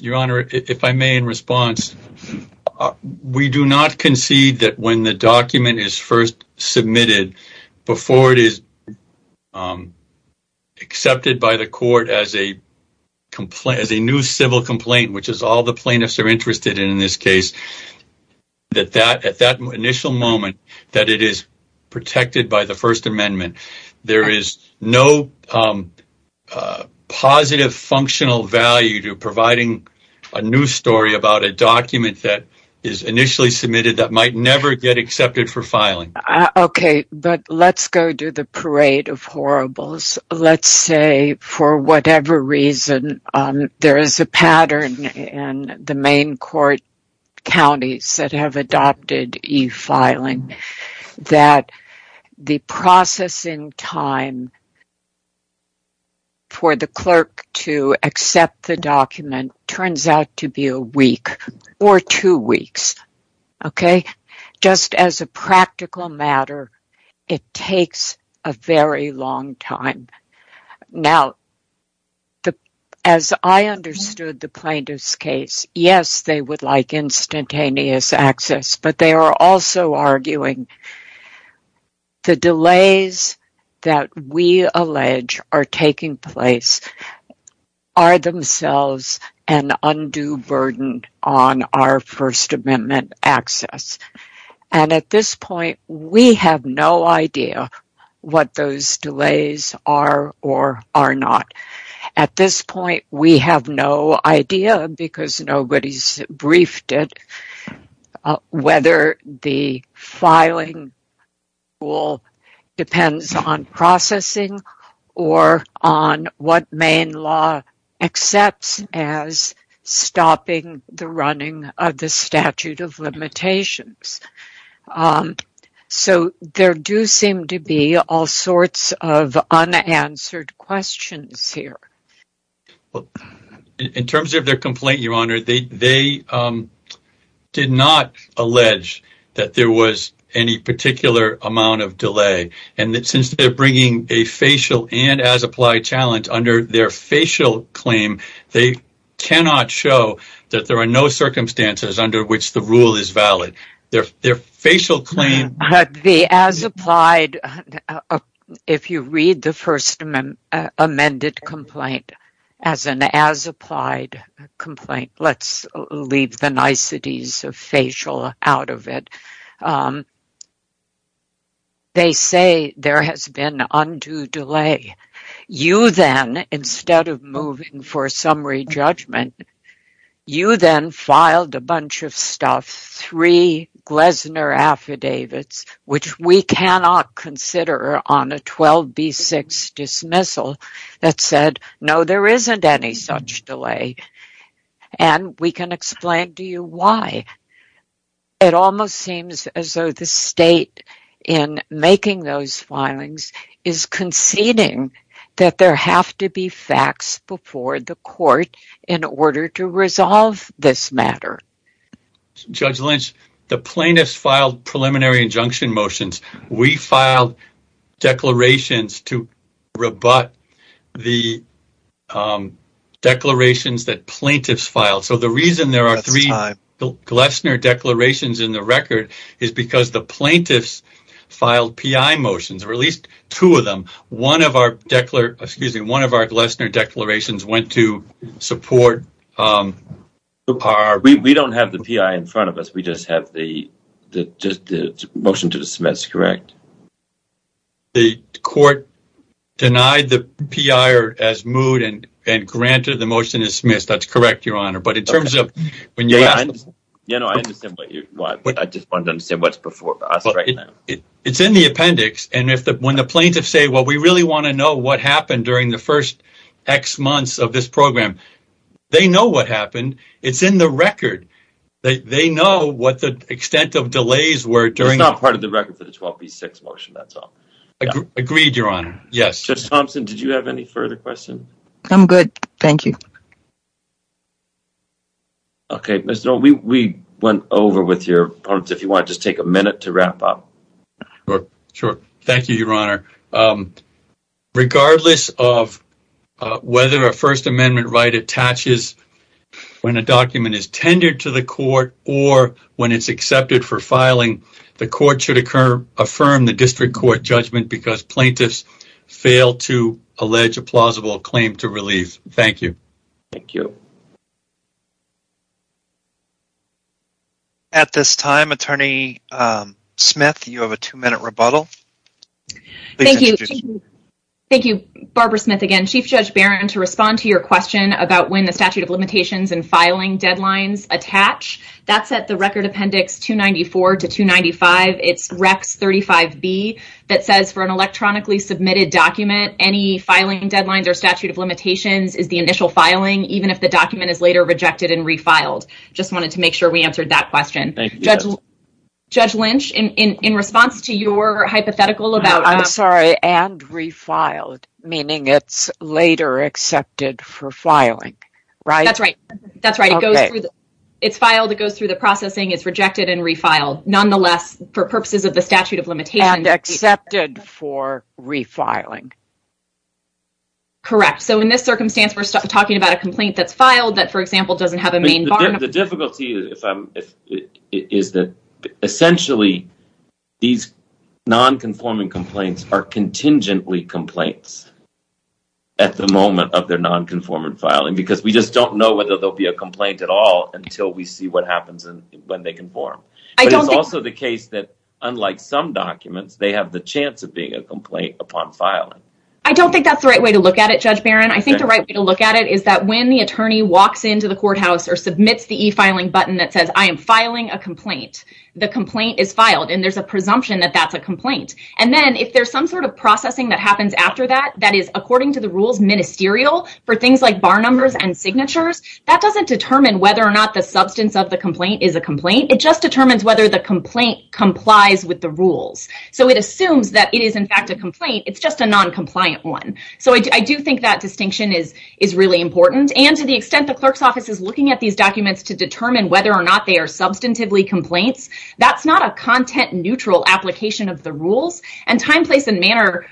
Your Honor, if I may, in response, we do not concede that when the document is first submitted, before it is accepted by the court as a new civil complaint, which is all the plaintiffs are interested in this case, that at that initial moment that it is protected by the First Amendment, there is no positive functional value to providing a new story about a document that is initially submitted that might never get accepted for filing. Okay, but let's go to the parade of horribles. Let's say, for whatever reason, there is a pattern in the Maine court counties that have adopted e-filing that the processing time for the clerk to accept the document turns out to be a week or two weeks. Okay, just as a practical matter, it takes a very long time. Now, as I understood the plaintiff's case, yes, they would like instantaneous access, but they are also arguing the delays that we allege are taking place are themselves an undue burden on our First Amendment access. And at this point, we have no idea what those delays are or are not. At this point, we have no idea, because nobody's briefed it, whether the filing rule depends on processing or on what Maine law accepts as stopping the running of the statute of limitations. So, there do seem to be all sorts of unanswered questions here. Well, in terms of their complaint, Your Honor, they did not allege that there was any particular amount of delay. And since they're bringing a facial and as-applied challenge under their facial claim, they cannot show that there are no circumstances under which the rule is valid. Their facial claim... The as-applied, if you read the First Amendment amended complaint as an as-applied complaint, let's leave the niceties of facial out of it. They say there has been undue delay. You then, instead of moving for summary judgment, you then filed a bunch of stuff, three Glessner affidavits, which we cannot consider on a 12b6 dismissal, that said, no, there isn't any such delay. And we can explain to you why. It almost seems as though the state in making those filings is conceding that there have to be facts before the court in order to resolve this matter. Judge Lynch, the plaintiffs filed preliminary injunction motions. We filed declarations to in the record is because the plaintiffs filed P.I. motions, or at least two of them. One of our Glessner declarations went to support... We don't have the P.I. in front of us. We just have the motion to dismiss, correct? The court denied the P.I. as moved and granted the motion is dismissed. That's correct, but in terms of... I just wanted to understand what's before us right now. It's in the appendix, and when the plaintiffs say, well, we really want to know what happened during the first X months of this program, they know what happened. It's in the record. They know what the extent of delays were during... It's not part of the record for the 12b6 motion, that's all. Agreed, your honor. Yes. Judge Thompson, did you have any further questions? I'm good, thank you. Okay, we went over with your opponents. If you want to just take a minute to wrap up. Sure. Thank you, your honor. Regardless of whether a first amendment right attaches when a document is tendered to the court or when it's accepted for filing, the court should affirm the district court judgment because plaintiffs fail to allege a plausible claim to relief. Thank you. Thank you. At this time, attorney Smith, you have a two-minute rebuttal. Thank you. Barbara Smith again. Chief Judge Barron, to respond to your question about when the statute of limitations and filing deadlines attach, that's at the record appendix 294 to 295. It's RECS 35B that says for an electronically submitted document, any filing deadlines or statute of limitations is the initial filing, even if the document is later rejected and refiled. Just wanted to make sure we answered that question. Judge Lynch, in response to your hypothetical about... I'm sorry, and refiled, meaning it's later accepted for filing, right? That's right. It's filed, it goes through the statute of limitations. And accepted for refiling. Correct. So in this circumstance, we're talking about a complaint that's filed that, for example, doesn't have a main bar. The difficulty is that essentially these non-conforming complaints are contingently complaints at the moment of their non-conforming filing because we just don't know whether there'll be a complaint at all until we see what happens when they conform. But it's also the case that, unlike some documents, they have the chance of being a complaint upon filing. I don't think that's the right way to look at it, Judge Barron. I think the right way to look at it is that when the attorney walks into the courthouse or submits the e-filing button that says, I am filing a complaint, the complaint is filed and there's a presumption that that's a complaint. And then if there's some sort of processing that happens after that, that is according to the rules ministerial for things like bar numbers and it just determines whether the complaint complies with the rules. So it assumes that it is, in fact, a complaint. It's just a noncompliant one. So I do think that distinction is really important. And to the extent the clerk's office is looking at these documents to determine whether or not they are substantively complaints, that's not a content-neutral application of the rules. And time, place, and manner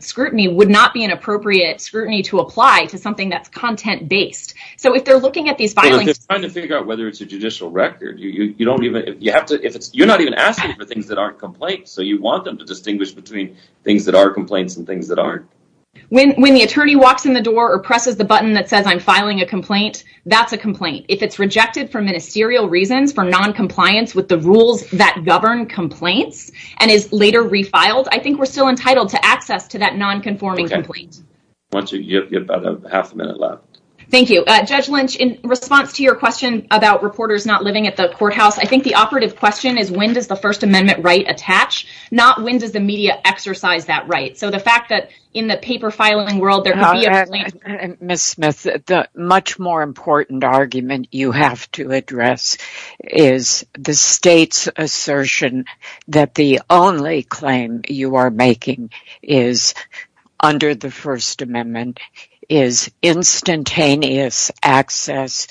scrutiny would not be an appropriate scrutiny to apply to something that's content-based. So if they're trying to figure out whether it's a judicial record, you're not even asking for things that aren't complaints. So you want them to distinguish between things that are complaints and things that aren't. When the attorney walks in the door or presses the button that says, I'm filing a complaint, that's a complaint. If it's rejected for ministerial reasons, for noncompliance with the rules that govern complaints and is later refiled, I think we're still entitled to access to that nonconforming complaint. You have about half a minute left. Thank you. Judge Lynch, in response to your question about reporters not living at the courthouse, I think the operative question is, when does the First Amendment right attach, not when does the media exercise that right? So the fact that in the paper filing world, Ms. Smith, the much more important argument you have to address is the state's assertion that the only claim you are making under the First Amendment is instantaneous access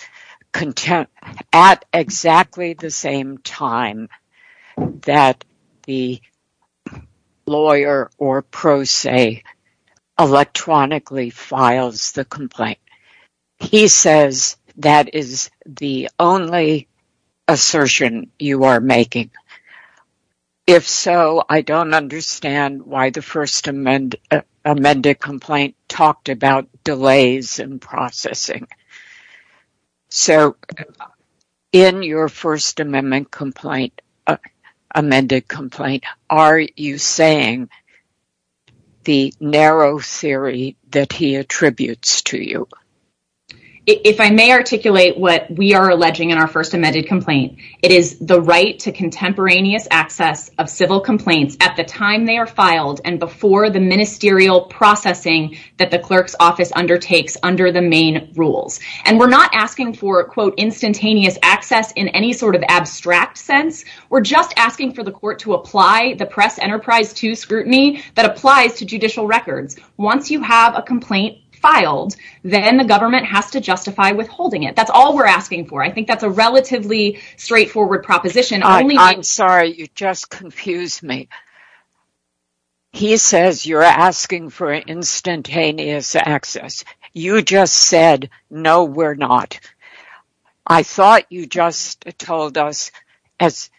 at exactly the same time that the lawyer or pro se electronically files the complaint. He says that is the only assertion you are making. If so, I don't understand why the First Amendment complaint talked about delays in processing. So in your First Amendment complaint, amended complaint, are you saying that the narrow theory that he attributes to you? If I may articulate what we are alleging in our First Amendment complaint, it is the right to contemporaneous access of civil complaints at the time they are filed and before the ministerial processing that the clerk's office undertakes under the main rules. And we're not asking for instantaneous access in any sort of abstract sense. We're just asking for the court to apply the press enterprise to scrutiny that applies to judicial records. Once you have a complaint filed, then the government has to justify withholding it. That's all we're asking for. I think that's a relatively straightforward proposition. I'm sorry, you just confused me. He says you're asking for instantaneous access. You just said, no, we're not. I thought you just told us as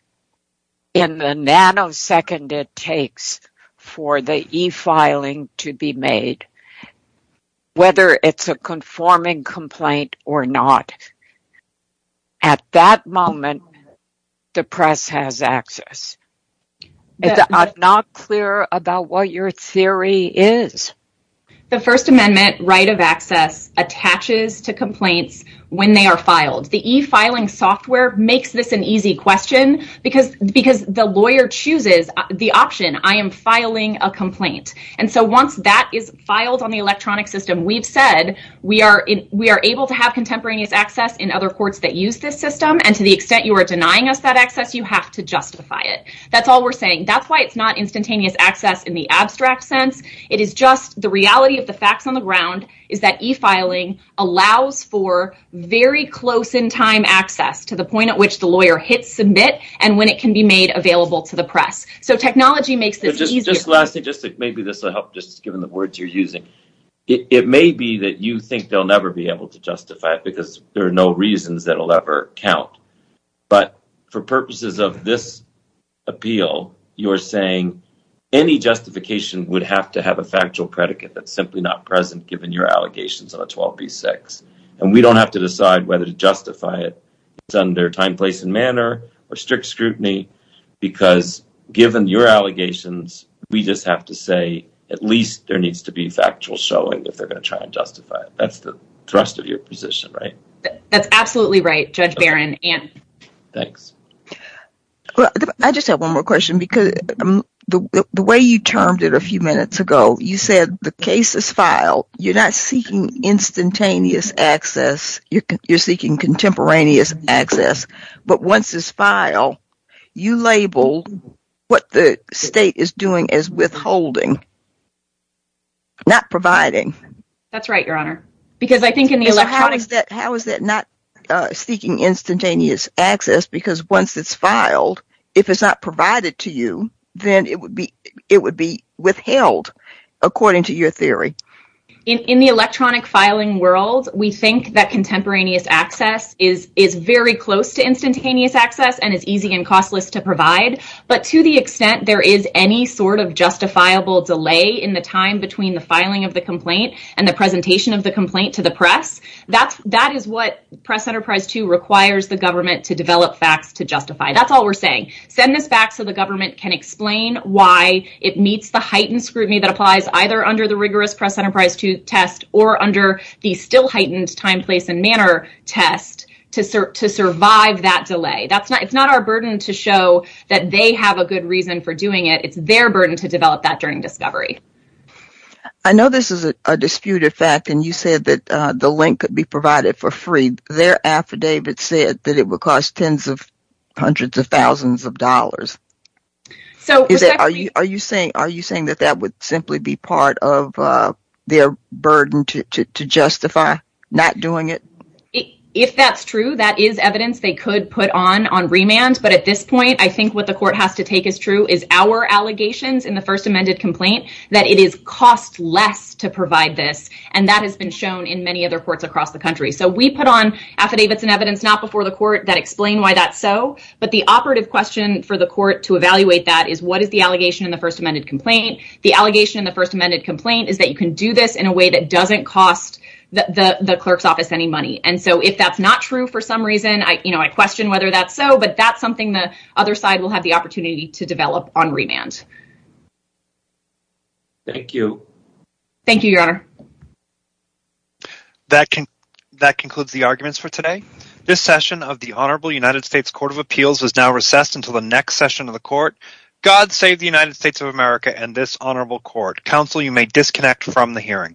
in the nanosecond it takes for the e-filing to be made, whether it's a conforming complaint or not. At that moment, the press has access. I'm not clear about what your theory is. The First Amendment right of access attaches to makes this an easy question because the lawyer chooses the option, I am filing a complaint. And so once that is filed on the electronic system, we've said we are able to have contemporaneous access in other courts that use this system. And to the extent you are denying us that access, you have to justify it. That's all we're saying. That's why it's not instantaneous access in the abstract sense. It is just the reality of the facts on the ground is that e-filing allows for very close in time access to the point at which the lawyer hits submit and when it can be made available to the press. So technology makes this easier. Just last thing, just maybe this will help just given the words you're using. It may be that you think they'll never be able to justify it because there are no reasons that will ever count. But for purposes of this appeal, you're saying any justification would have to have a factual predicate that's simply not present given your whether to justify it. It's under time, place, and manner or strict scrutiny because given your allegations, we just have to say at least there needs to be factual showing if they're going to try and justify it. That's the thrust of your position, right? That's absolutely right, Judge Barron. Thanks. I just have one more question because the way you termed it a few minutes ago, you said the case is filed. You're not seeking instantaneous access. You're seeking contemporaneous access. But once it's filed, you label what the state is doing as withholding, not providing. That's right, Your Honor. Because I think in the electronic... How is that not seeking instantaneous access because once it's filed, if it's not provided to you, then it would be withheld according to your theory. In the electronic filing world, we think that contemporaneous access is very close to instantaneous access and is easy and costless to provide. But to the extent there is any sort of justifiable delay in the time between the filing of the complaint and the presentation of the complaint to the press, that is what Press Enterprise 2 requires the government to develop facts to justify. That's all we're saying. Send this back so the government can explain why it meets the heightened scrutiny that applies either under the rigorous Press Enterprise 2 test or under the still heightened time, place, and manner test to survive that delay. It's not our burden to show that they have a good reason for doing it. It's their burden to develop that during discovery. I know this is a disputed fact and you said that the link could be provided for free. Their affidavit said that it would cost tens of hundreds of thousands of dollars. Are you saying that that would simply be part of their burden to justify not doing it? If that's true, that is evidence they could put on on remand. But at this point, I think what the court has to take as true is our allegations in the first amended complaint that it is costless to provide this and that has been shown in many other courts across the country. So we put on affidavits and evidence not before the court that explain why that's so. But the operative question for the court to evaluate that is what is the allegation in the first amended complaint? The allegation in the first amended complaint is that you can do this in a way that doesn't cost the clerk's office any money. And so if that's not true for some reason, I question whether that's so, but that's something the other side will have the opportunity to develop on remand. Thank you. Thank you, Your Honor. Thank you. That concludes the arguments for today. This session of the Honorable United States Court of Appeals is now recessed until the next session of the court. God save the United States of America and this Honorable Court. Counsel, you may disconnect from the hearing.